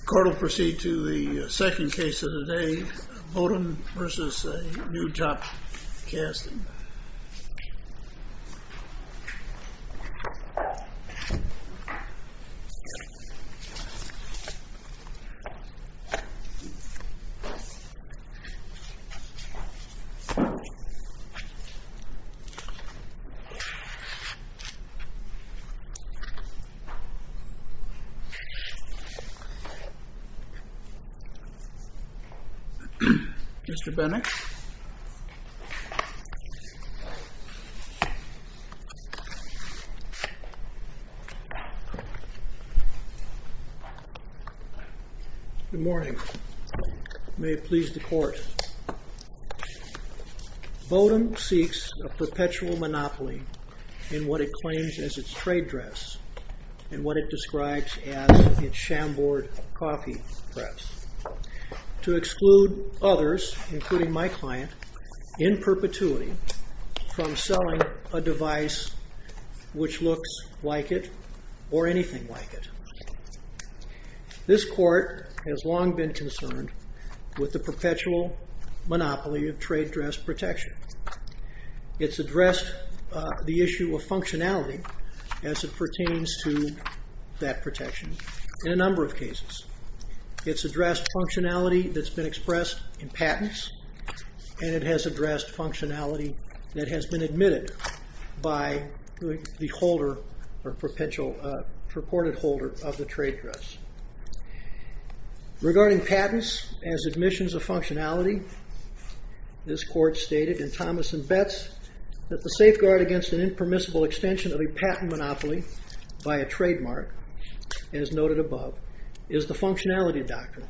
The court will proceed to the second case of the day, Bodum v. A New Top Casting Mr. Bennex? Good morning. May it please the court. Bodum seeks a perpetual monopoly in what it claims as its trade dress and what it describes as its shamboard coffee press, to exclude others, including my client, in perpetuity from selling a device which looks like it or anything like it. This court has long been concerned with the perpetual monopoly of trade dress protection. It's addressed the issue of functionality as it pertains to that protection in a number of cases. It's addressed functionality that's been expressed in patents, and it has addressed functionality that has been admitted by the holder or purported holder of the trade dress. Regarding patents as admissions of functionality, this court stated in Thomas and Betts that the safeguard against an impermissible extension of a patent monopoly by a trademark, as noted above, is the functionality doctrine.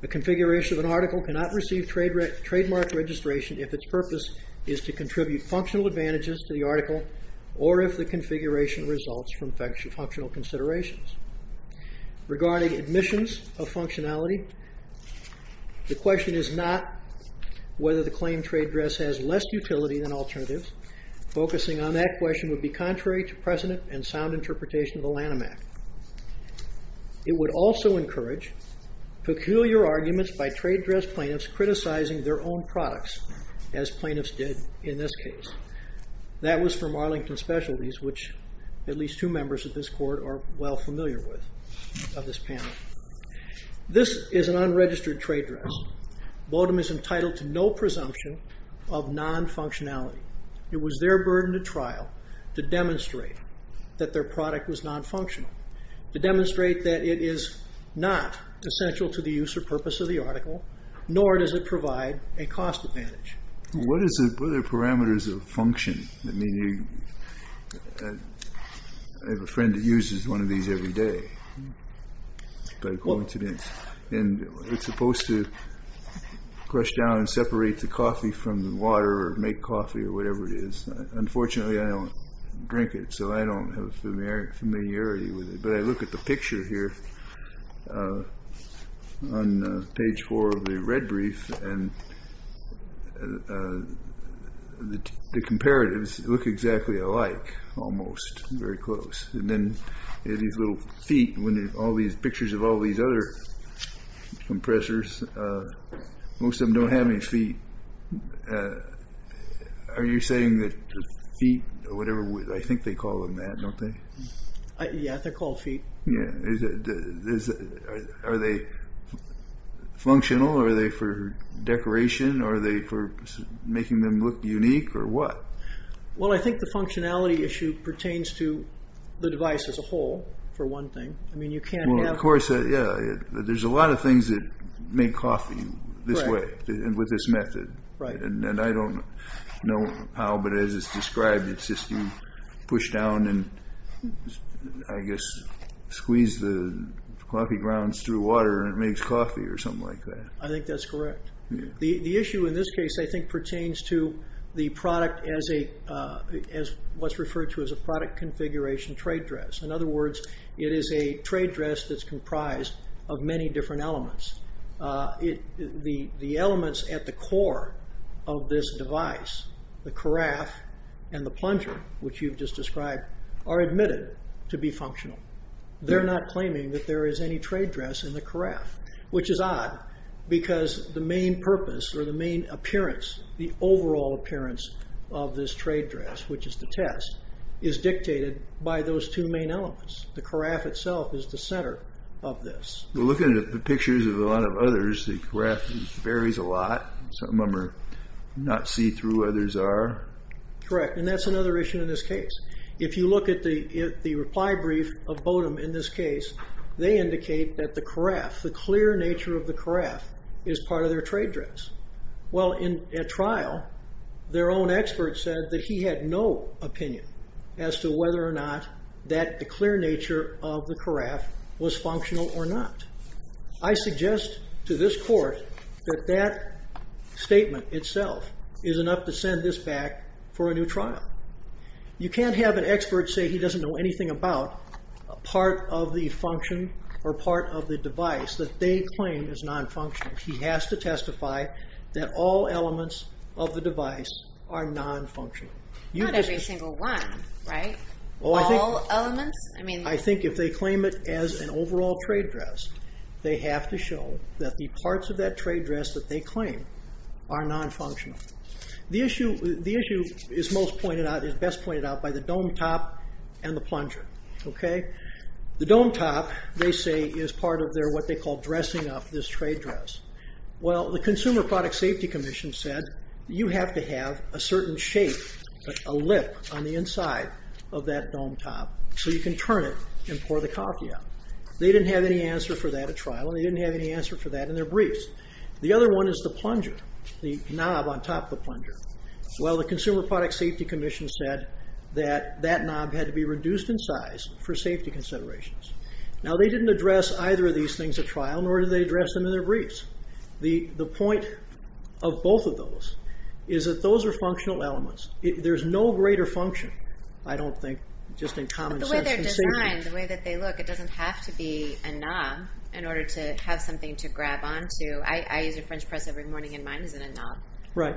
The configuration of an article cannot receive trademark registration if its purpose is to contribute functional advantages to the article or if the configuration results from functional considerations. Regarding admissions of functionality, the question is not whether the claimed trade dress has less utility than alternatives. Focusing on that question would be contrary to precedent and sound interpretation of the Lanham Act. It would also encourage peculiar arguments by trade dress plaintiffs criticizing their own products, as plaintiffs did in this case. That was from Arlington Specialties, which at least two members of this court are well familiar with of this panel. This is an unregistered trade dress. Bodom is entitled to no presumption of non-functionality. It was their burden to trial to demonstrate that their product was non-functional, to demonstrate that it is not essential to the use or purpose of the article, nor does it provide a cost advantage. What are the parameters of function? I mean, I have a friend that uses one of these every day. And it's supposed to crush down and separate the coffee from the water or make coffee or whatever it is. Unfortunately, I don't drink it, so I don't have familiarity with it. But I look at the picture here on page four of the red brief, and the comparatives look exactly alike, almost, very close. And then these little feet, when all these pictures of all these other compressors, most of them don't have any feet. Are you saying that feet or whatever, I think they call them that, don't they? Yeah, they're called feet. Yeah. Are they functional? Are they for decoration? Are they for making them look unique or what? Well, I think the functionality issue pertains to the device as a whole, for one thing. I mean, you can't have... Well, of course, yeah. There's a lot of things that make coffee this way and with this method. Right. And I don't know how, but as it's described, it's just you push down and, I guess, squeeze the coffee grounds through water and it makes coffee or something like that. I think that's correct. The issue in this case, I think, pertains to the product as what's referred to as a product configuration trade dress. In other words, it is a trade dress that's comprised of many different elements. The elements at the core of this device, the carafe and the plunger, which you've just described, are admitted to be functional. They're not claiming that there is any trade dress in the carafe, which is odd because the main purpose or the main appearance, the overall appearance of this trade dress, which is the test, is dictated by those two main elements. The carafe itself is the center of this. Looking at the pictures of a lot of others, the carafe varies a lot. Some of them are not see-through, others are. Correct. And that's another issue in this case. If you look at the reply brief of Bodum in this case, they indicate that the carafe, the clear nature of the carafe, is part of their trade dress. Well, in a trial, their own expert said that he had no opinion as to whether or not that the clear nature of the carafe was functional or not. I suggest to this court that that statement itself is enough to send this back for a new trial. You can't have an expert say he doesn't know anything about a part of the function or part of the device that they claim is non-functional. He has to testify that all elements of the device are non-functional. Not every single one, right? All elements? I think if they claim it as an overall trade dress, they have to show that the parts of that trade dress that they claim are non-functional. The issue is best pointed out by the dome top and the plunger. The dome top, they say, is part of what they call dressing up this trade dress. Well, the Consumer Product Safety Commission said you have to have a certain shape, a lip on the inside of that dome top, so you can turn it and pour the coffee out. They didn't have any answer for that at trial, and they didn't have any answer for that in their briefs. The other one is the plunger, the knob on top of the plunger. Well, the Consumer Product Safety Commission said that that knob had to be reduced in size for safety considerations. Now, they didn't address either of these things at trial, nor did they address them in their briefs. The point of both of those is that those are functional elements. There's no greater function, I don't think, just in common sense. In their design, the way that they look, it doesn't have to be a knob in order to have something to grab on to. I use a French press every morning, and mine isn't a knob. Right.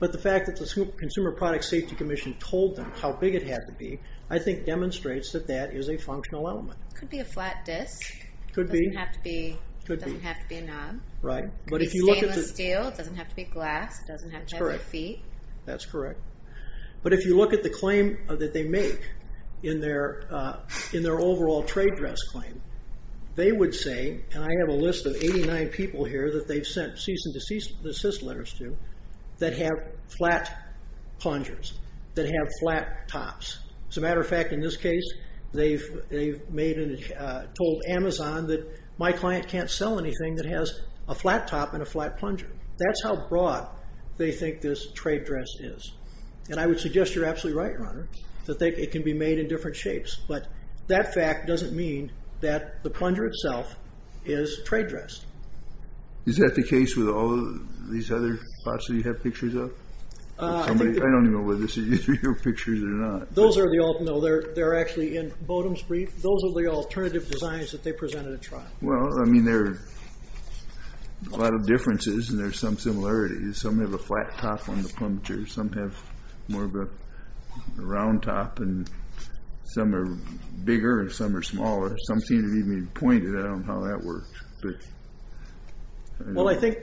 But the fact that the Consumer Product Safety Commission told them how big it had to be, I think, demonstrates that that is a functional element. It could be a flat disc. It could be. It doesn't have to be a knob. Right. It could be stainless steel. It doesn't have to be glass. It doesn't have to have feet. That's correct. But if you look at the claim that they make in their overall trade dress claim, they would say, and I have a list of 89 people here that they've sent cease and desist letters to that have flat plungers, that have flat tops. As a matter of fact, in this case, they've told Amazon that my client can't sell anything that has a flat top and a flat plunger. That's how broad they think this trade dress is. And I would suggest you're absolutely right, Your Honor, that it can be made in different shapes. But that fact doesn't mean that the plunger itself is trade dress. Is that the case with all these other pots that you have pictures of? I don't even know whether these are your pictures or not. Those are the alternative. They're actually in Bodum's brief. Those are the alternative designs that they presented at trial. Well, I mean, there are a lot of differences, and there's some similarities. Some have a flat top on the plunger. Some have more of a round top, and some are bigger, and some are smaller. Some seem to be pointed. I don't know how that works. Well, I think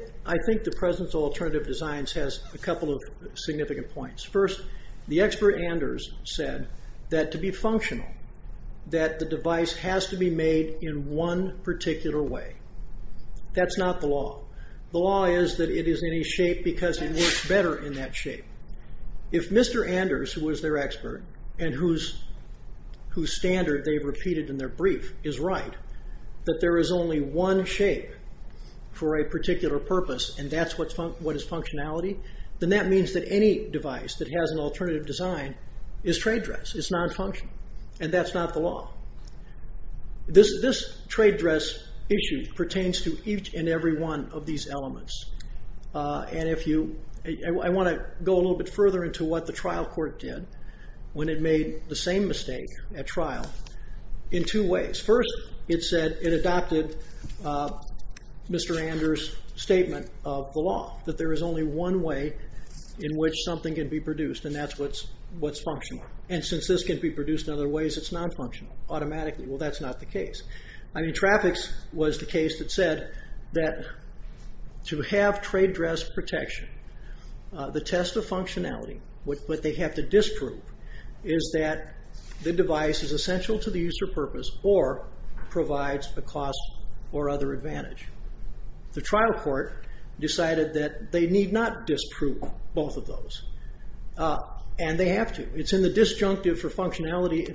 the presence of alternative designs has a couple of significant points. First, the expert Anders said that to be functional, that the device has to be made in one particular way. That's not the law. The law is that it is in a shape because it works better in that shape. If Mr. Anders, who is their expert and whose standard they've repeated in their brief, is right, that there is only one shape for a particular purpose, and that's what is functionality, then that means that any device that has an alternative design is trade dress. It's nonfunctional, and that's not the law. This trade dress issue pertains to each and every one of these elements. I want to go a little bit further into what the trial court did when it made the same mistake at trial in two ways. First, it said it adopted Mr. Anders' statement of the law, that there is only one way in which something can be produced, and that's what's functional. And since this can be produced in other ways, it's nonfunctional automatically. Well, that's not the case. I mean, Trafix was the case that said that to have trade dress protection, the test of functionality, what they have to disprove, is that the device is essential to the use or purpose or provides a cost or other advantage. The trial court decided that they need not disprove both of those, and they have to. It's in the disjunctive for functionality.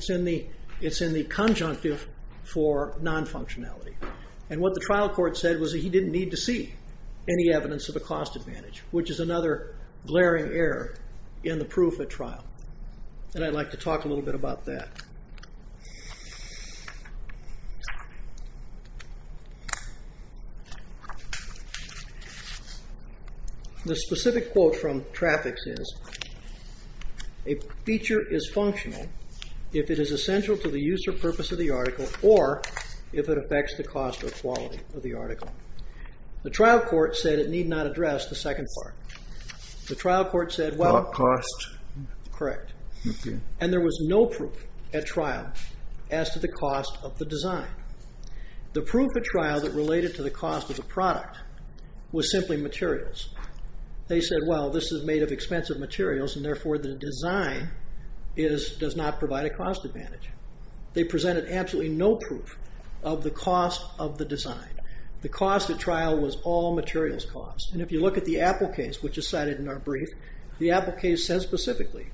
It's in the conjunctive for nonfunctionality. And what the trial court said was that he didn't need to see any evidence of a cost advantage, which is another glaring error in the proof at trial, and I'd like to talk a little bit about that. The specific quote from Trafix is, a feature is functional if it is essential to the use or purpose of the article or if it affects the cost or quality of the article. The trial court said it need not address the second part. The trial court said, well... Cost. Correct. And there was no proof at trial as to the cost of the design. The proof at trial that related to the cost of the product was simply materials. They said, well, this is made of expensive materials, and therefore the design does not provide a cost advantage. They presented absolutely no proof of the cost of the design. The cost at trial was all materials cost. And if you look at the Apple case, which is cited in our brief, the Apple case says specifically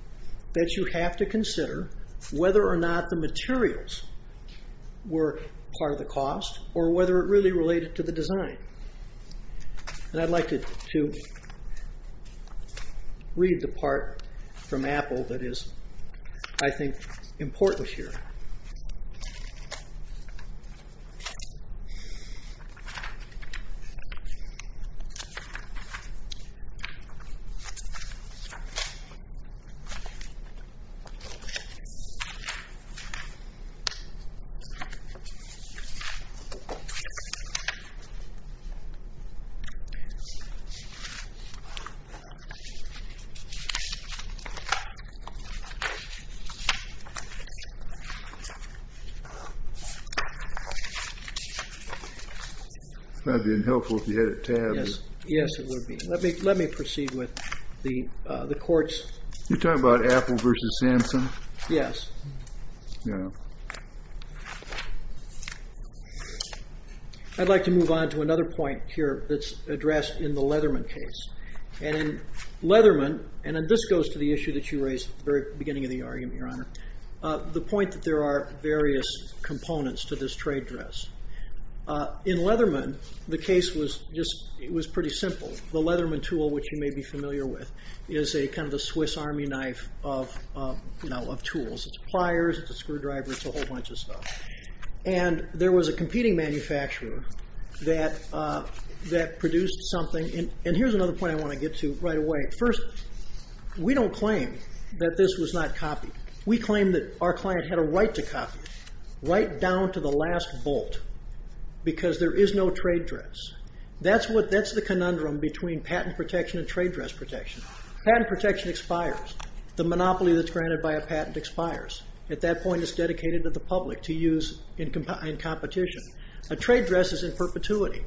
that you have to consider whether or not the materials were part of the cost or whether it really related to the design. And I'd like to read the part from Apple that is, I think, important here. That would be helpful if you had it tabbed. Yes, it would be. Let me proceed with the court's... You're talking about Apple versus Samson? Yes. I'd like to move on to another point here that's addressed in the Leatherman case. And in Leatherman, and this goes to the issue that you raised at the very beginning of the argument, Your Honor, the point that there are various components to this trade dress. In Leatherman, the case was pretty simple. The Leatherman tool, which you may be familiar with, is kind of the Swiss army knife of tools. It's pliers, it's a screwdriver, it's a whole bunch of stuff. And there was a competing manufacturer that produced something. And here's another point I want to get to right away. First, we don't claim that this was not copied. We claim that our client had a right to copy it, right down to the last bolt, because there is no trade dress. That's the conundrum between patent protection and trade dress protection. Patent protection expires. The monopoly that's granted by a patent expires. At that point, it's dedicated to the public to use in competition. A trade dress is in perpetuity.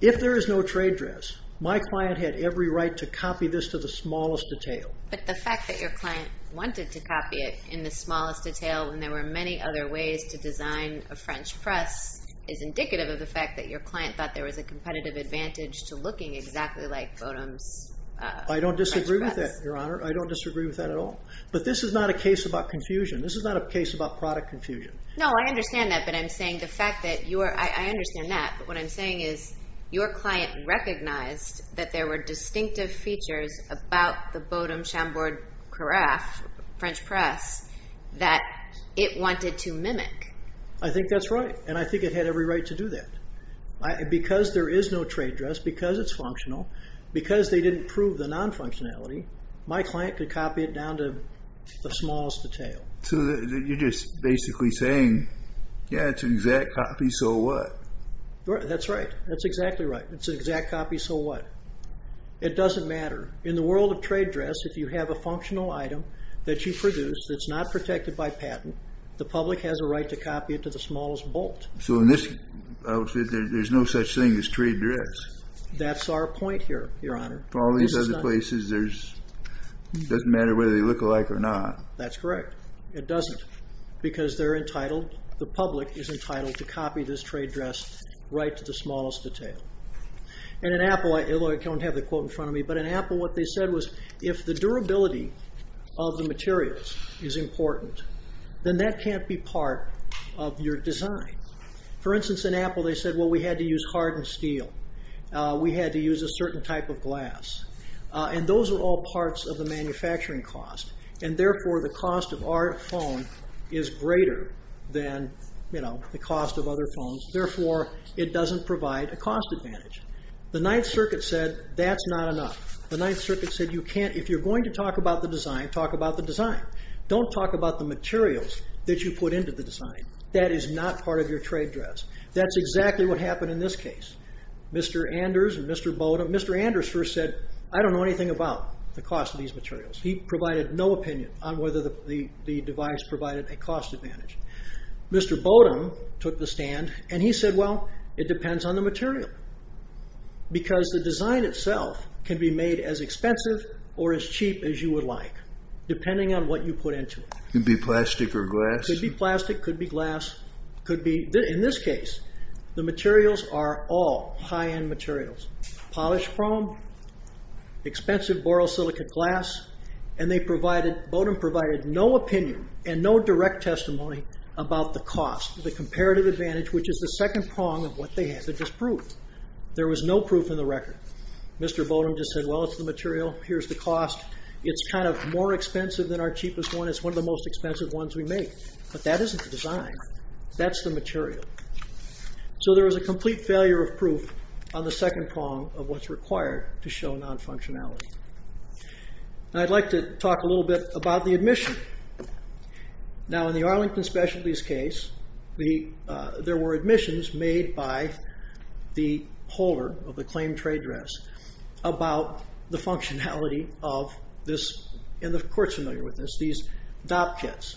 If there is no trade dress, my client had every right to copy this to the smallest detail. But the fact that your client wanted to copy it in the smallest detail, when there were many other ways to design a French press, is indicative of the fact that your client thought there was a competitive advantage to looking exactly like Bodum's French press. I don't disagree with that, Your Honor. I don't disagree with that at all. But this is not a case about confusion. This is not a case about product confusion. No, I understand that. But I'm saying the fact that you are, I understand that. But what I'm saying is, your client recognized that there were distinctive features about the Bodum Chambord Carafe French press that it wanted to mimic. I think that's right. And I think it had every right to do that. Because there is no trade dress, because it's functional, because they didn't prove the non-functionality, my client could copy it down to the smallest detail. So you're just basically saying, yeah, it's an exact copy, so what? That's right. That's exactly right. It's an exact copy, so what? It doesn't matter. In the world of trade dress, if you have a functional item that you produce that's not protected by patent, the public has a right to copy it to the smallest bolt. So in this outfit, there's no such thing as trade dress. That's our point here, Your Honor. For all these other places, it doesn't matter whether they look alike or not. That's correct. It doesn't, because they're entitled, the public is entitled to copy this trade dress right to the smallest detail. And in Apple, although I don't have the quote in front of me, but in Apple what they said was, if the durability of the materials is important, then that can't be part of your design. For instance, in Apple they said, well, we had to use hardened steel. We had to use a certain type of glass. And those are all parts of the manufacturing cost, and therefore the cost of our phone is greater than, you know, the cost of other phones, therefore it doesn't provide a cost advantage. The Ninth Circuit said that's not enough. The Ninth Circuit said you can't, if you're going to talk about the design, talk about the design. Don't talk about the materials that you put into the design. That is not part of your trade dress. That's exactly what happened in this case. Mr. Anders and Mr. Bodum, Mr. Anders first said, I don't know anything about the cost of these materials. He provided no opinion on whether the device provided a cost advantage. Mr. Bodum took the stand, and he said, well, it depends on the material. Because the design itself can be made as expensive or as cheap as you would like, depending on what you put into it. Could be plastic or glass? Could be plastic, could be glass, could be, in this case, the materials are all high-end materials. Polished chrome, expensive borosilicate glass, and they provided, Bodum provided no opinion and no direct testimony about the cost, the comparative advantage, which is the second prong of what they had to disprove. There was no proof in the record. Mr. Bodum just said, well, it's the material. Here's the cost. It's kind of more expensive than our cheapest one. It's one of the most expensive ones we make. But that isn't the design. That's the material. So there was a complete failure of proof on the second prong of what's required to show non-functionality. I'd like to talk a little bit about the admission. Now, in the Arlington Specialties case, there were admissions made by the holder of the claimed trade dress about the functionality of this, and the court's familiar with this, these dop kits.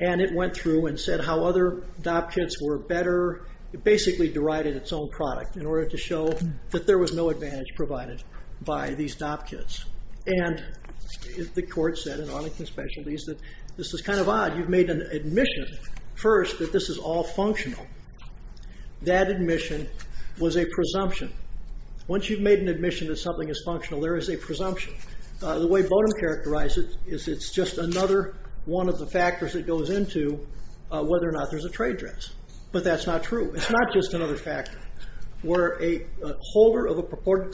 And it went through and said how other dop kits were better. It basically derided its own product in order to show that there was no advantage provided by these dop kits. And the court said in Arlington Specialties that this is kind of odd. You've made an admission first that this is all functional. That admission was a presumption. Once you've made an admission that something is functional, there is a presumption. The way Bodum characterized it is it's just another one of the factors that goes into whether or not there's a trade dress. But that's not true. It's not just another factor. Where a holder of a purported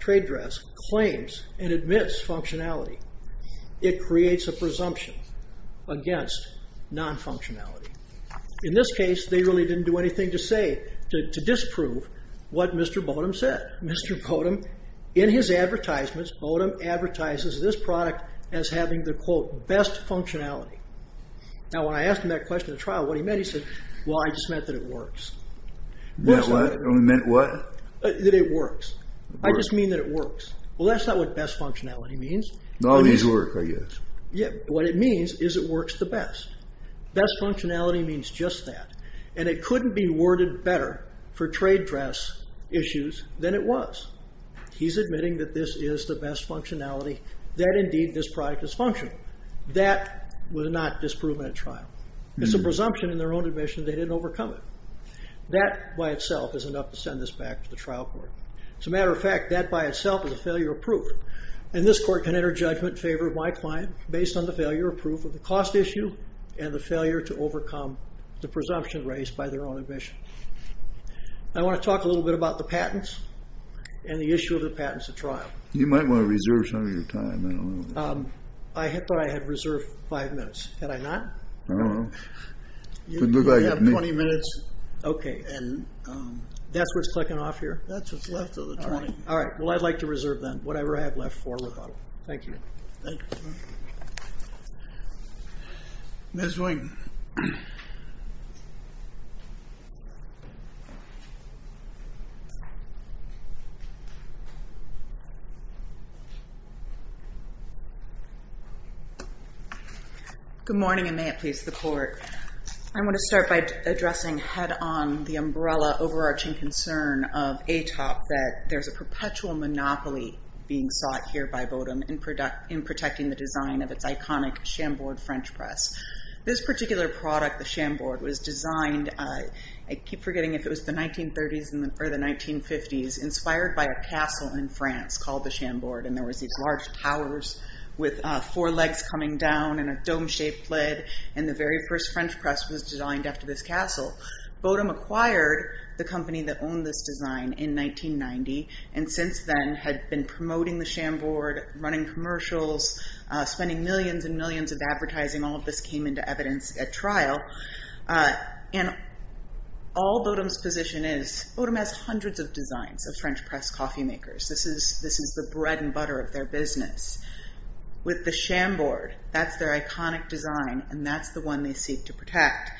trade dress claims and admits functionality, it creates a presumption. It's a claim against non-functionality. In this case, they really didn't do anything to say, to disprove what Mr. Bodum said. Mr. Bodum, in his advertisements, Bodum advertises this product as having the, quote, best functionality. Now, when I asked him that question at trial, what he meant, he said, well, I just meant that it works. That what? He meant what? That it works. I just mean that it works. Well, that's not what best functionality means. All these work, I guess. Yeah. What it means is it works the best. Best functionality means just that. And it couldn't be worded better for trade dress issues than it was. He's admitting that this is the best functionality, that indeed this product is functional. That was not disproven at trial. It's a presumption in their own admission they didn't overcome it. That by itself is enough to send this back to the trial court. As a matter of fact, that by itself is a failure of proof. And this court can enter judgment in favor of my client, based on the failure of proof of the cost issue and the failure to overcome the presumption raised by their own admission. I want to talk a little bit about the patents and the issue of the patents at trial. You might want to reserve some of your time. I thought I had reserved five minutes. Had I not? I don't know. You have 20 minutes. Okay. That's where it's clicking off here? That's what's left of the trial. All right. Well, I'd like to reserve, then, whatever I have left for Ricardo. Thank you. Thank you. Ms. Wing. Good morning, and may it please the Court. I want to start by addressing head-on the umbrella overarching concern of ATOP that there's a perpetual monopoly being sought here by Bodum in protecting the design of its iconic Chambord French press. This particular product, the Chambord, was designed, I keep forgetting if it was the 1930s or the 1950s, inspired by a castle in France called the Chambord, and there was these large towers with four legs coming down and a dome-shaped lid, and the very first French press was designed after this castle. Bodum acquired the company that owned this design in 1990 and since then had been promoting the Chambord, running commercials, spending millions and millions of advertising. All of this came into evidence at trial. And all Bodum's position is, Bodum has hundreds of designs of French press coffee makers. This is the bread and butter of their business. With the Chambord, that's their iconic design, and that's the one they seek to protect.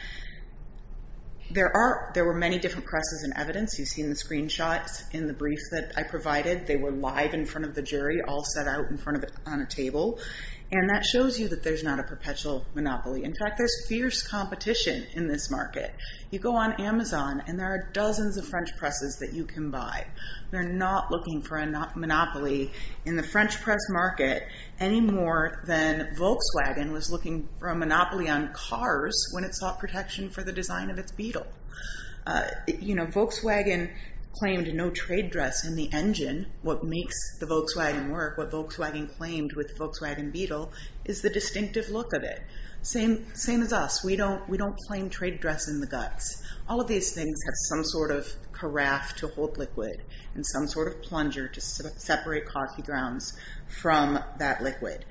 There were many different presses in evidence. You've seen the screenshots in the brief that I provided. They were live in front of the jury, all set out in front of it on a table, and that shows you that there's not a perpetual monopoly. In fact, there's fierce competition in this market. You go on Amazon, and there are dozens of French presses that you can buy. They're not looking for a monopoly in the French press market any more than Volkswagen was looking for a monopoly on cars when it sought protection for the design of its Beetle. Volkswagen claimed no trade dress in the engine. What makes the Volkswagen work, what Volkswagen claimed with the Volkswagen Beetle, is the distinctive look of it. Same as us. We don't claim trade dress in the guts. All of these things have some sort of carafe to hold liquid and some sort of plunger to separate coffee grounds from that liquid.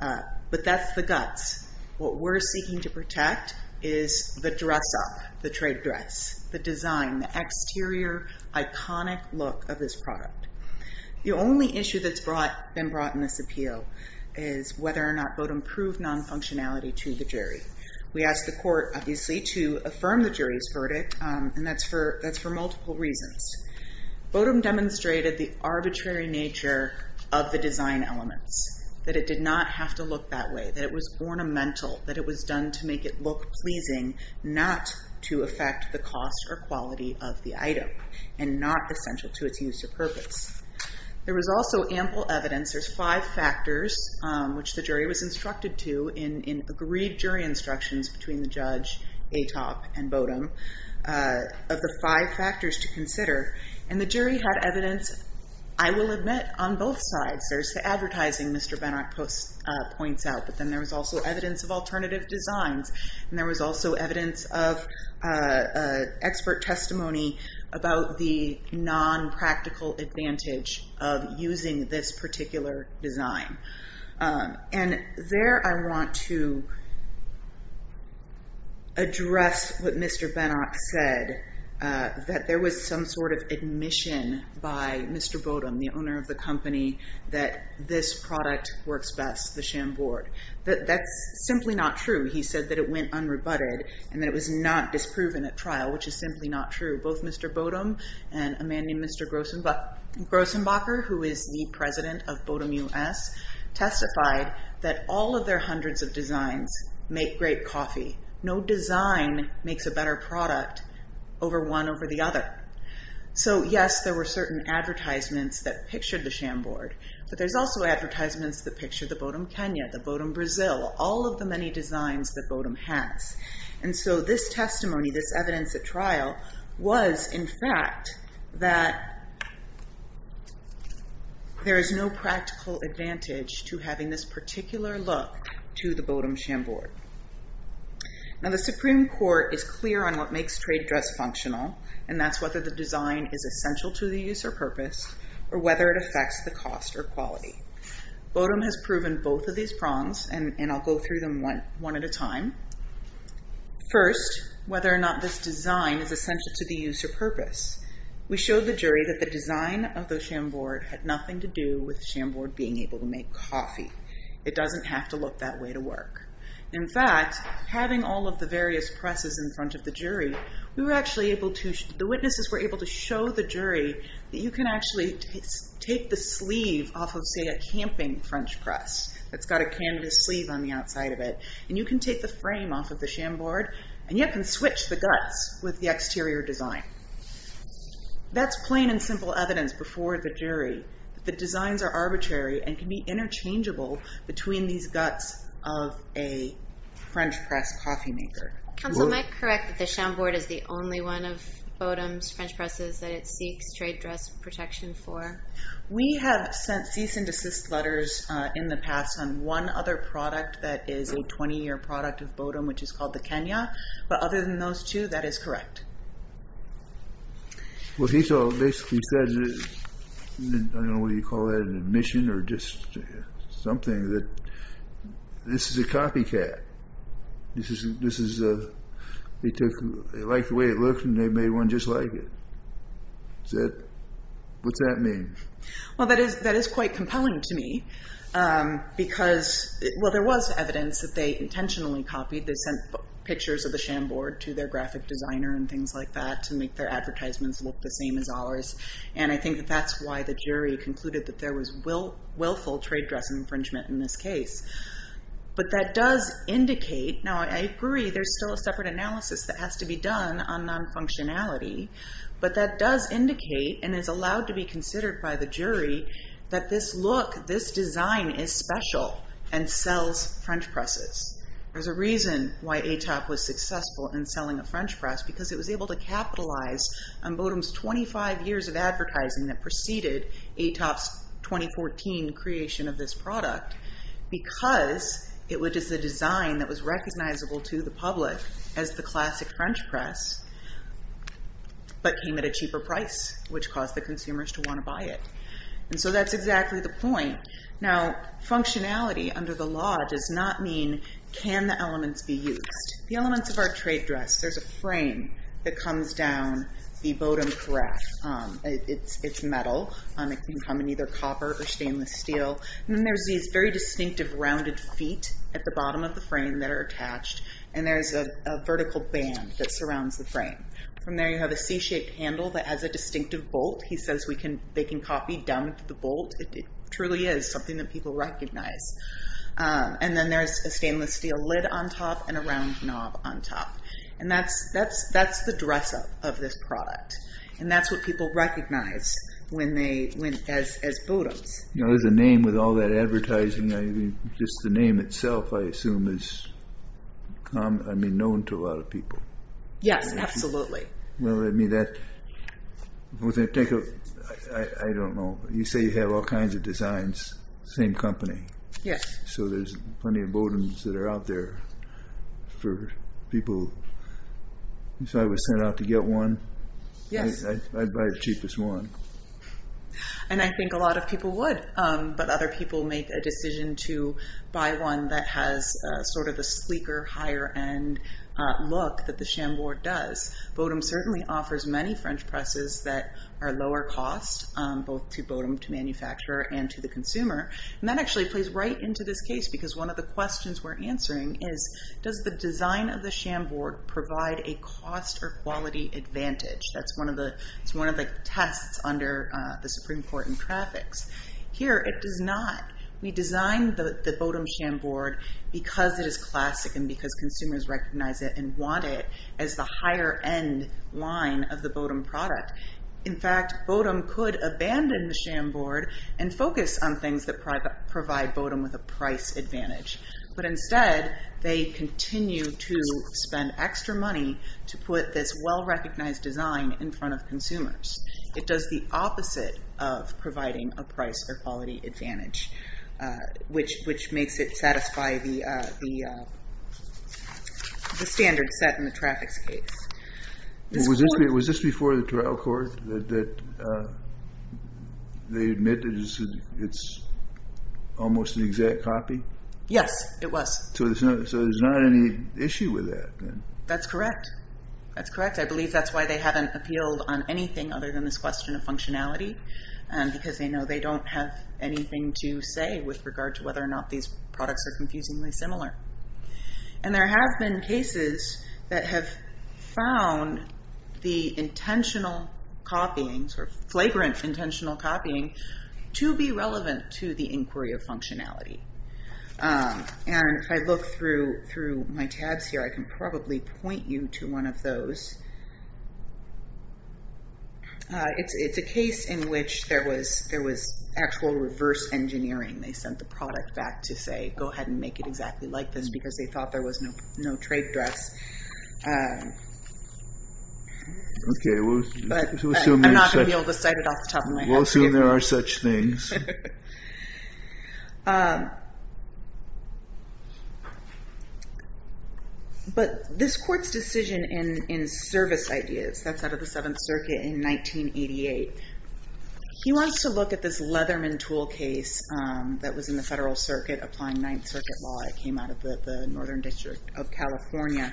But that's the guts. What we're seeking to protect is the dress-up, the trade dress, the design, the exterior, iconic look of this product. The only issue that's been brought in this appeal is whether or not Bodum proved non-functionality to the jury. We asked the court, obviously, to affirm the jury's verdict, and that's for multiple reasons. Bodum demonstrated the arbitrary nature of the design elements, that it did not have to look that way, that it was ornamental, that it was done to make it look pleasing, not to affect the cost or quality of the item, and not essential to its use or purpose. There was also ample evidence, there's five factors, which the jury was instructed to in agreed jury instructions between the judge, Atop, and Bodum, of the five factors to consider, and the jury had evidence, I will admit, on both sides. There's the advertising Mr. Benak points out, but then there was also evidence of alternative designs, and there was also evidence of expert testimony about the non-practical advantage of using this particular design. And there I want to address what Mr. Benak said, that there was some sort of admission by Mr. Bodum, the owner of the company, that this product works best, the Chambord. That's simply not true. He said that it went unrebutted, and that it was not disproven at trial, which is simply not true. Both Mr. Bodum and a man named Mr. Grossenbacher, who is the president of Bodum US, testified that all of their hundreds of designs make great coffee. No design makes a better product over one over the other. So yes, there were certain advertisements that pictured the Chambord, but there's also advertisements that picture the Bodum Kenya, the Bodum Brazil, all of the many designs that Bodum has. And so this testimony, this evidence at trial, was in fact that there is no practical advantage to having this particular look to the Bodum Chambord. Now the Supreme Court is clear on what makes trade dress functional, and that's whether the design is essential to the use or purpose, or whether it affects the cost or quality. Bodum has proven both of these prongs, and I'll go through them one at a time. First, whether or not this design is essential to the use or purpose. We showed the jury that the design of the Chambord had nothing to do with the Chambord being able to make coffee. It doesn't have to look that way to work. In fact, having all of the various presses in front of the jury, the witnesses were able to show the jury that you can actually take the sleeve off of, say, a camping French press that's got a canvas sleeve on the outside of it, and you can take the frame off of the Chambord, and yet can switch the guts with the exterior design. That's plain and simple evidence before the jury that the designs are arbitrary and can be interchangeable between these guts of a French press coffee maker. Counsel, am I correct that the Chambord is the only one of Bodum's French presses that it seeks trade dress protection for? We have sent cease and desist letters in the past on one other product that is a 20-year product of Bodum, which is called the Kenya, but other than those two, that is correct. Well, he basically said, I don't know what you call that, an admission or just something that this is a copycat. He liked the way it looked, and they made one just like it. What's that mean? Well, that is quite compelling to me because, well, there was evidence that they intentionally copied. They sent pictures of the Chambord to their graphic designer and things like that to make their advertisements look the same as ours, and I think that that's why the jury concluded that there was willful trade dress infringement in this case. But that does indicate, now I agree there's still a separate analysis that has to be done on non-functionality, but that does indicate and is allowed to be considered by the jury that this look, this design is special and sells French presses. There's a reason why ATOP was successful in selling a French press because it was able to capitalize on Bodum's 25 years of advertising that preceded ATOP's 2014 creation of this product because it was just a design that was recognizable to the public as the classic French press but came at a cheaper price, which caused the consumers to want to buy it. And so that's exactly the point. Now, functionality under the law does not mean can the elements be used. The elements of our trade dress, there's a frame that comes down the Bodum press. It's metal. It can come in either copper or stainless steel. And then there's these very distinctive rounded feet at the bottom of the frame that are attached, and there's a vertical band that surrounds the frame. From there you have a C-shaped handle that has a distinctive bolt. He says they can copy down to the bolt. It truly is something that people recognize. And then there's a stainless steel lid on top and a round knob on top. And that's the dress-up of this product, and that's what people recognize as Bodum's. There's a name with all that advertising. Just the name itself, I assume, is known to a lot of people. Yes, absolutely. Well, I don't know. You say you have all kinds of designs, same company. Yes. So there's plenty of Bodums that are out there for people. If I was sent out to get one, I'd buy the cheapest one. And I think a lot of people would, but other people make a decision to buy one that has sort of the sleeker, higher-end look that the Chambord does. Bodum certainly offers many French presses that are lower cost, both to Bodum, to manufacturer, and to the consumer. And that actually plays right into this case, because one of the questions we're answering is, does the design of the Chambord provide a cost or quality advantage? That's one of the tests under the Supreme Court in traffics. Here, it does not. We designed the Bodum Chambord because it is classic and because consumers recognize it and want it as the higher-end line of the Bodum product. In fact, Bodum could abandon the Chambord and focus on things that provide Bodum with a price advantage. But instead, they continue to spend extra money to put this well-recognized design in front of consumers. It does the opposite of providing a price or quality advantage, which makes it satisfy the standard set in the traffics case. Was this before the trial court, that they admit that it's almost an exact copy? Yes, it was. So there's not any issue with that, then? That's correct. I believe that's why they haven't appealed on anything other than this question of functionality, because they know they don't have anything to say with regard to whether or not these products are confusingly similar. There have been cases that have found the intentional copying, sort of flagrant intentional copying, to be relevant to the inquiry of functionality. If I look through my tabs here, I can probably point you to one of those. It's a case in which there was actual reverse engineering. They sent the product back to say, go ahead and make it exactly like this, because they thought there was no trade dress. I'm not going to be able to cite it off the top of my head. We'll assume there are such things. But this court's decision in service ideas, that's out of the Seventh Circuit in 1988. He wants to look at this Leatherman tool case that was in the Federal Circuit, applying Ninth Circuit law. It came out of the Northern District of California.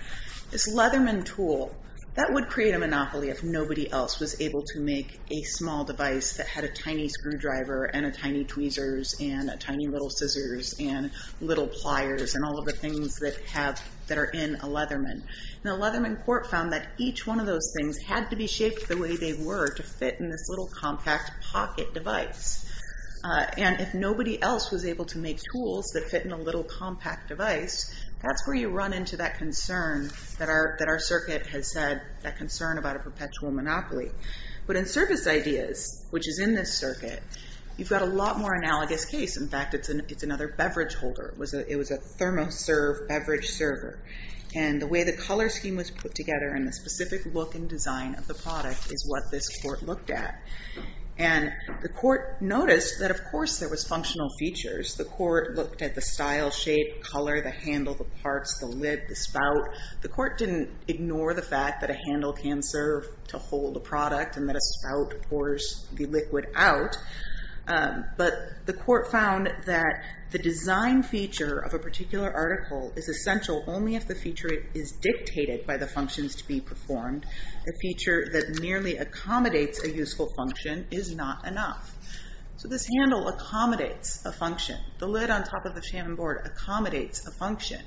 This Leatherman tool, that would create a monopoly if nobody else was able to make a small device that had a tiny screwdriver and a tiny tweezers and a tiny little scissors and little pliers and all of the things that are in a Leatherman. The Leatherman court found that each one of those things had to be shaped the way they were to fit in this little compact pocket device. If nobody else was able to make tools that fit in a little compact device, that's where you run into that concern that our circuit has said, that concern about a perpetual monopoly. But in service ideas, which is in this circuit, you've got a lot more analogous case. In fact, it's another beverage holder. It was a thermoserve beverage server. And the way the color scheme was put together and the specific look and design of the product is what this court looked at. And the court noticed that, of course, there was functional features. The court looked at the style, shape, color, the handle, the parts, the lid, the spout. The court didn't ignore the fact that a handle can serve to hold a product and that a spout pours the liquid out. But the court found that the design feature of a particular article is essential only if the feature is dictated by the functions to be performed. A feature that nearly accommodates a useful function is not enough. So this handle accommodates a function. The lid on top of the Shannon board accommodates a function.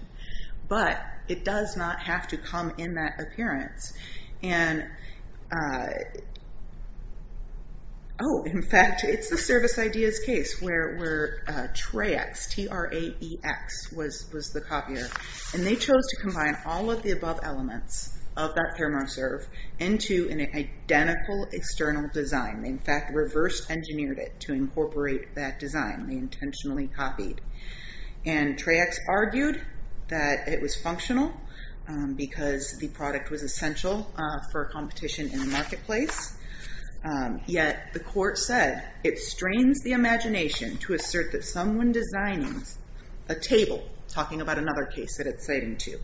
But it does not have to come in that appearance. And, oh, in fact, it's the Service Ideas case where Traex, T-R-A-E-X, was the copier. And they chose to combine all of the above elements of that thermoserve into an identical external design. They, in fact, reverse engineered it to incorporate that design. They intentionally copied. And Traex argued that it was functional because the product was essential for competition in the marketplace. Yet the court said, it strains the imagination to assert that someone designs a table, talking about another case that it's citing to,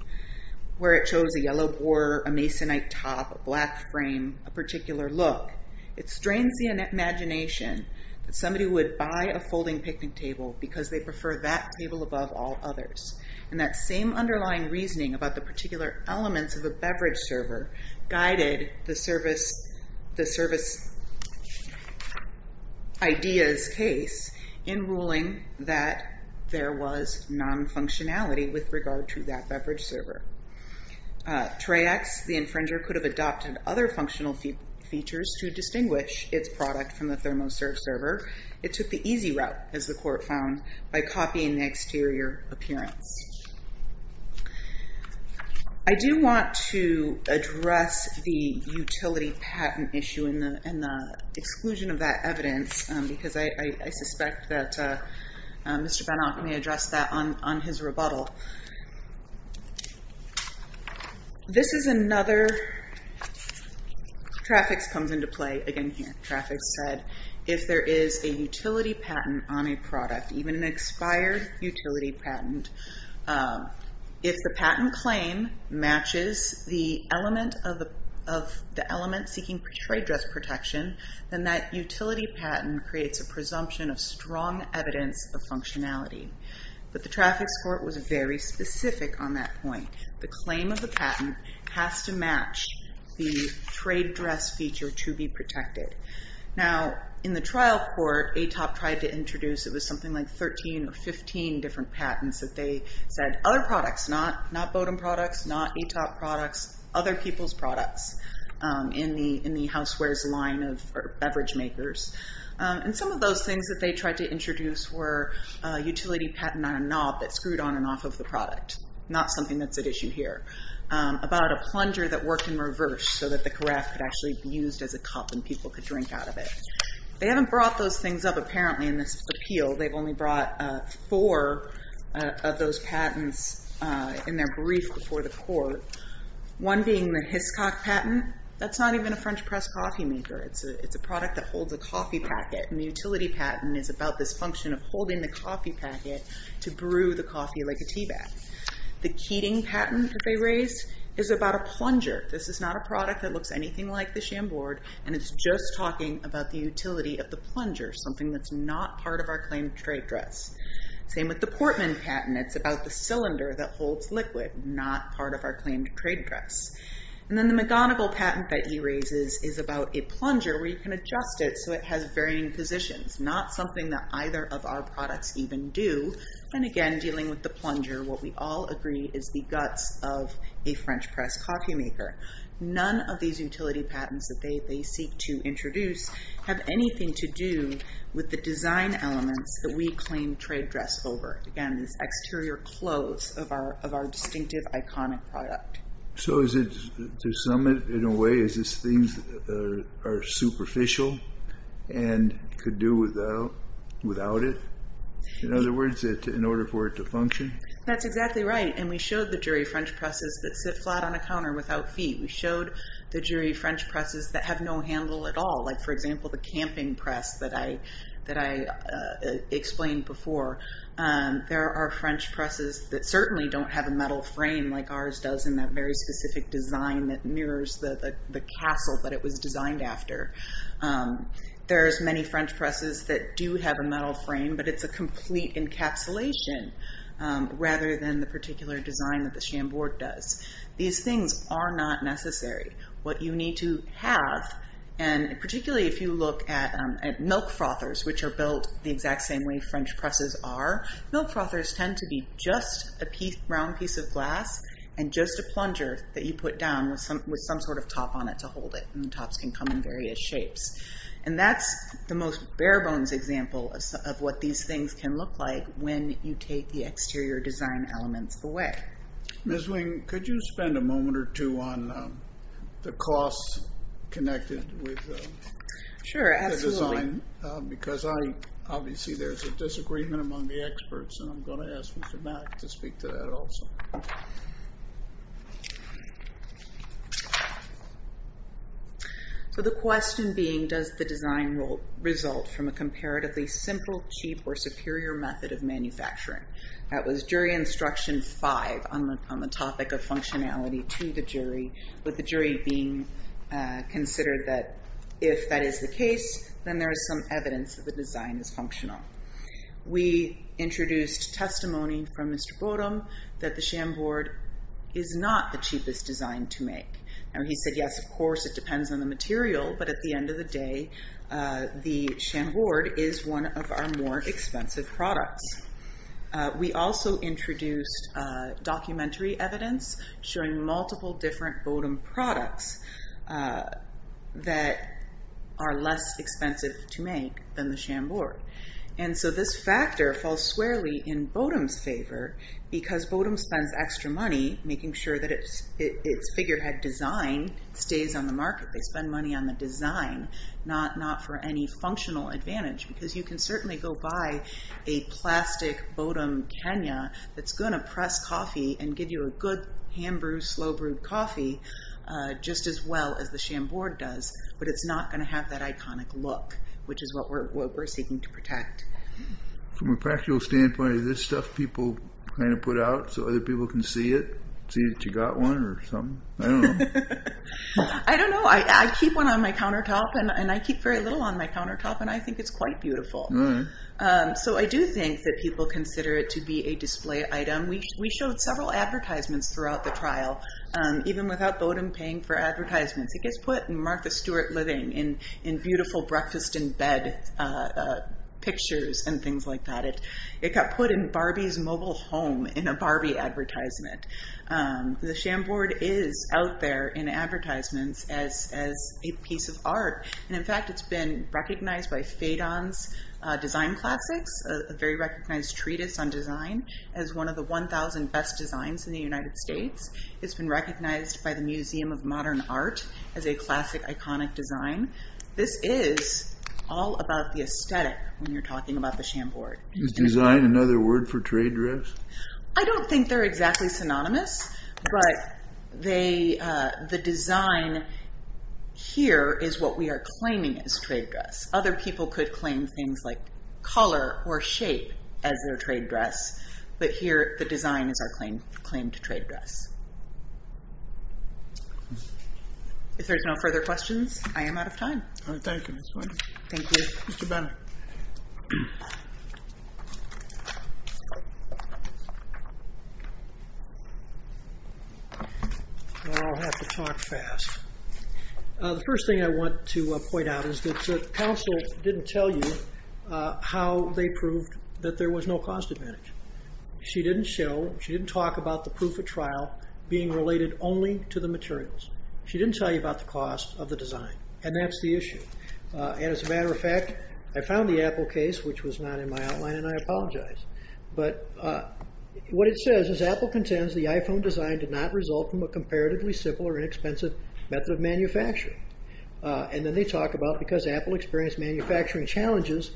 where it shows a yellow board, a masonite top, a black frame, a particular look. It strains the imagination that somebody would buy a folding picnic table because they prefer that table above all others. And that same underlying reasoning about the particular elements of a beverage server guided the Service Ideas case in ruling that there was non-functionality with regard to that beverage server. Traex, the infringer, could have adopted other functional features to distinguish its product from the thermoserve server. It took the easy route, as the court found, by copying the exterior appearance. I do want to address the utility patent issue and the exclusion of that evidence because I suspect that Mr. Benach may address that on his rebuttal. This is another. Traex comes into play again here. Traex said, if there is a utility patent on a product, even an expired utility patent, if the patent claim matches the element seeking trade dress protection, then that utility patent creates a presumption of strong evidence of functionality. But the traffics court was very specific on that point. The claim of the patent has to match the trade dress feature to be protected. Now, in the trial court, ATOP tried to introduce something like 13 or 15 different patents that they said, other products, not Bodum products, not ATOP products, other people's products in the housewares line of beverage makers. And some of those things that they tried to introduce were a utility patent on a knob that screwed on and off of the product, not something that's at issue here, about a plunger that worked in reverse so that the carafe could actually be used as a cup and people could drink out of it. They haven't brought those things up, apparently, in this appeal. They've only brought four of those patents in their brief before the court, one being the Hiscock patent. That's not even a French press coffee maker. It's a product that holds a coffee packet. And the utility patent is about this function of holding the coffee packet to brew the coffee like a teabag. The Keating patent that they raised is about a plunger. This is not a product that looks anything like the Chambord. And it's just talking about the utility of the plunger, something that's not part of our claimed trade dress. Same with the Portman patent. It's about the cylinder that holds liquid, not part of our claimed trade dress. And then the McGonigal patent that he raises is about a plunger where you can adjust it so it has varying positions, not something that either of our products even do. And again, dealing with the plunger, what we all agree is the guts of a French press coffee maker. None of these utility patents that they seek to introduce have anything to do with the design elements that we claim trade dress over. Again, this exterior close of our distinctive, iconic product. So to sum it, in a way, is this things that are superficial and could do without it? In other words, in order for it to function? That's exactly right. And we showed the jury French presses that sit flat on a counter without feet. We showed the jury French presses that have no handle at all. Like, for example, the camping press that I explained before. There are French presses that certainly don't have a metal frame like ours does in that very specific design that mirrors the castle that it was designed after. There's many French presses that do have a metal frame, but it's a complete encapsulation rather than the particular design that the Chambord does. These things are not necessary. What you need to have, and particularly if you look at milk frothers, which are built the exact same way French presses are, milk frothers tend to be just a round piece of glass and just a plunger that you put down with some sort of top on it to hold it, and the tops can come in various shapes. And that's the most bare-bones example of what these things can look like when you take the exterior design elements away. Ms. Wing, could you spend a moment or two on the costs connected with the design? Sure, absolutely. Because obviously there's a disagreement among the experts, and I'm going to ask you for Matt to speak to that also. The question being, does the design result from a comparatively simple, cheap, or superior method of manufacturing? That was jury instruction five on the topic of functionality to the jury, with the jury being considered that if that is the case, then there is some evidence that the design is functional. We introduced testimony from Mr. Bodom that the Chambord is not the cheapest design to make. He said, yes, of course, it depends on the material, but at the end of the day the Chambord is one of our more expensive products. We also introduced documentary evidence showing multiple different Bodom products that are less expensive to make than the Chambord. And so this factor falls squarely in Bodom's favor because Bodom spends extra money making sure that its figurehead design stays on the market. They spend money on the design, not for any functional advantage, because you can certainly go buy a plastic Bodom Kenya that's going to press coffee and give you a good hand-brewed, slow-brewed coffee just as well as the Chambord does, but it's not going to have that iconic look, which is what we're seeking to protect. From a practical standpoint, is this stuff people kind of put out so other people can see it, see that you got one or something? I don't know. I don't know. I keep one on my countertop, and I keep very little on my countertop, and I think it's quite beautiful. So I do think that people consider it to be a display item. We showed several advertisements throughout the trial, even without Bodom paying for advertisements. It gets put in Martha Stewart Living in beautiful breakfast-in-bed pictures and things like that. It got put in Barbie's mobile home in a Barbie advertisement. The Chambord is out there in advertisements as a piece of art, and, in fact, it's been recognized by Phaidon's Design Classics, a very recognized treatise on design as one of the 1,000 best designs in the United States. It's been recognized by the Museum of Modern Art as a classic, iconic design. This is all about the aesthetic when you're talking about the Chambord. Is design another word for trade dress? I don't think they're exactly synonymous, but the design here is what we are claiming as trade dress. Other people could claim things like color or shape as their trade dress, but here the design is our claim to trade dress. If there's no further questions, I am out of time. Thank you, Ms. Wood. Thank you. Mr. Bonner. I'll have to talk fast. The first thing I want to point out is that the counsel didn't tell you how they proved that there was no cost advantage. She didn't show, she didn't talk about the proof of trial being related only to the materials. She didn't tell you about the cost of the design, and that's the issue. As a matter of fact, I found the Apple case, which was not in my outline, and I apologize. What it says is Apple contends the iPhone design did not result from a comparatively simple or inexpensive method of manufacturing. Then they talk about because Apple experienced manufacturing challenges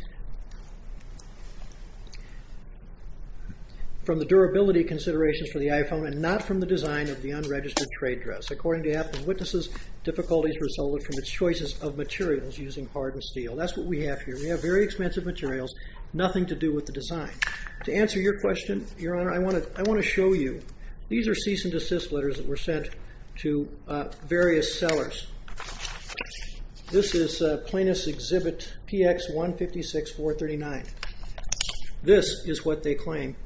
from the durability considerations for the iPhone and not from the design of the unregistered trade dress. According to Apple's witnesses, difficulties resulted from its choices of materials using hard and steel. That's what we have here. We have very expensive materials, nothing to do with the design. To answer your question, Your Honor, I want to show you. These are cease and desist letters that were sent to various sellers. This is plaintiff's exhibit PX156-439. This is what they claim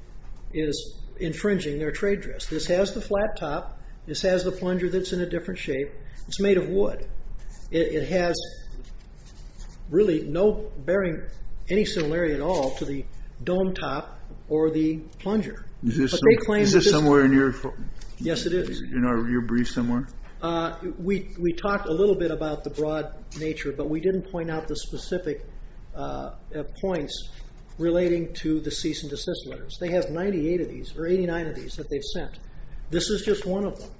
is infringing their trade dress. This has the flat top. This has the plunger that's in a different shape. It's made of wood. It has really no bearing, any similarity at all to the dome top or the plunger. Is this somewhere in your brief somewhere? We talked a little bit about the broad nature, but we didn't point out the specific points relating to the cease and desist letters. They have 98 of these or 89 of these that they've sent. This is just one of them.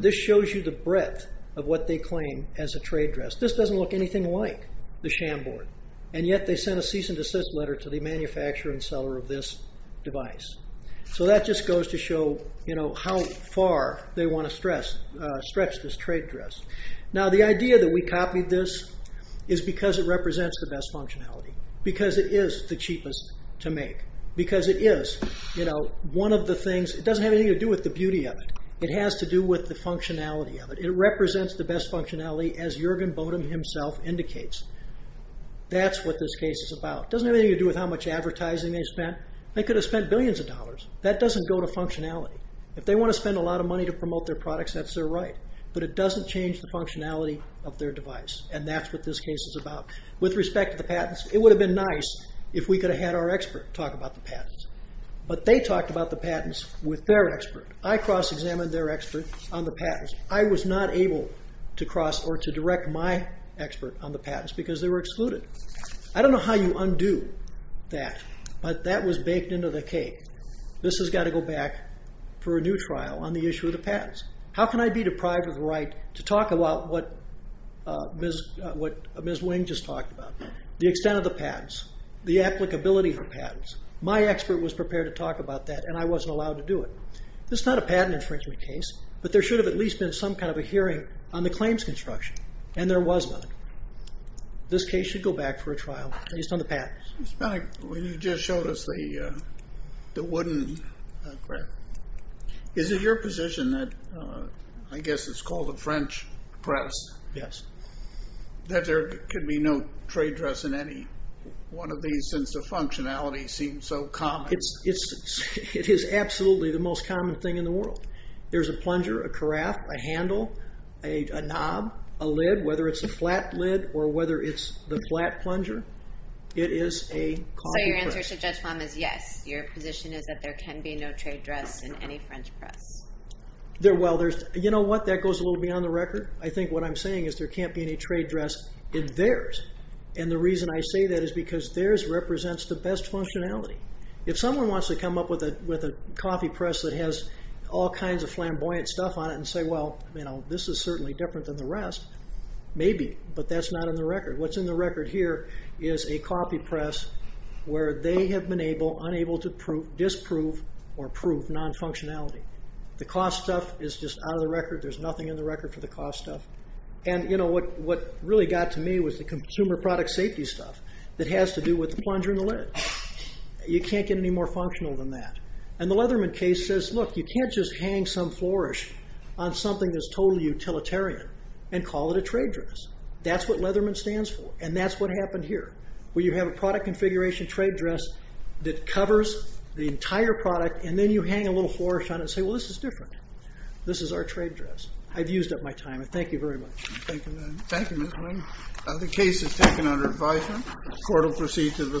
This shows you the breadth of what they claim as a trade dress. This doesn't look anything like the Shamboard, and yet they sent a cease and desist letter to the manufacturer and seller of this device. That just goes to show how far they want to stretch this trade dress. Now, the idea that we copied this is because it represents the best functionality, because it is the cheapest to make, because it is one of the things. It doesn't have anything to do with the beauty of it. It has to do with the functionality of it. It represents the best functionality, as Juergen Bodum himself indicates. That's what this case is about. It doesn't have anything to do with how much advertising they spent. They could have spent billions of dollars. That doesn't go to functionality. If they want to spend a lot of money to promote their products, that's their right, but it doesn't change the functionality of their device, and that's what this case is about. With respect to the patents, it would have been nice if we could have had our expert talk about the patents, but they talked about the patents with their expert. I cross-examined their expert on the patents. I was not able to cross or to direct my expert on the patents because they were excluded. I don't know how you undo that, but that was baked into the cake. This has got to go back for a new trial on the issue of the patents. How can I be deprived of the right to talk about what Ms. Wing just talked about, the extent of the patents, the applicability of the patents? My expert was prepared to talk about that, and I wasn't allowed to do it. This is not a patent infringement case, but there should have at least been some kind of a hearing on the claims construction, and there was none. This case should go back for a trial based on the patents. When you just showed us the wooden grip, is it your position that, I guess it's called a French press, that there could be no trade dress in any one of these since the functionality seems so common? It is absolutely the most common thing in the world. There's a plunger, a carafe, a handle, a knob, a lid, whether it's a flat lid or whether it's the flat plunger. It is a coffee press. So your answer to Judge Fama is yes. Your position is that there can be no trade dress in any French press. Well, you know what? That goes a little beyond the record. I think what I'm saying is there can't be any trade dress in theirs, and the reason I say that is because theirs represents the best functionality. If someone wants to come up with a coffee press that has all kinds of flamboyant stuff on it and say, well, you know, this is certainly different than the rest, maybe, but that's not in the record. What's in the record here is a coffee press where they have been able, unable to disprove or prove non-functionality. The cost stuff is just out of the record. There's nothing in the record for the cost stuff. And, you know, what really got to me was the consumer product safety stuff that has to do with the plunger and the lid. You can't get any more functional than that. And the Leatherman case says, look, you can't just hang some flourish on something that's totally utilitarian and call it a trade dress. That's what Leatherman stands for, and that's what happened here, where you have a product configuration trade dress that covers the entire product, and then you hang a little flourish on it and say, well, this is different. This is our trade dress. I've used up my time, and thank you very much. Thank you. Thank you, Mr. Lane. The case is taken under advisement. The Court will proceed to the third hearing.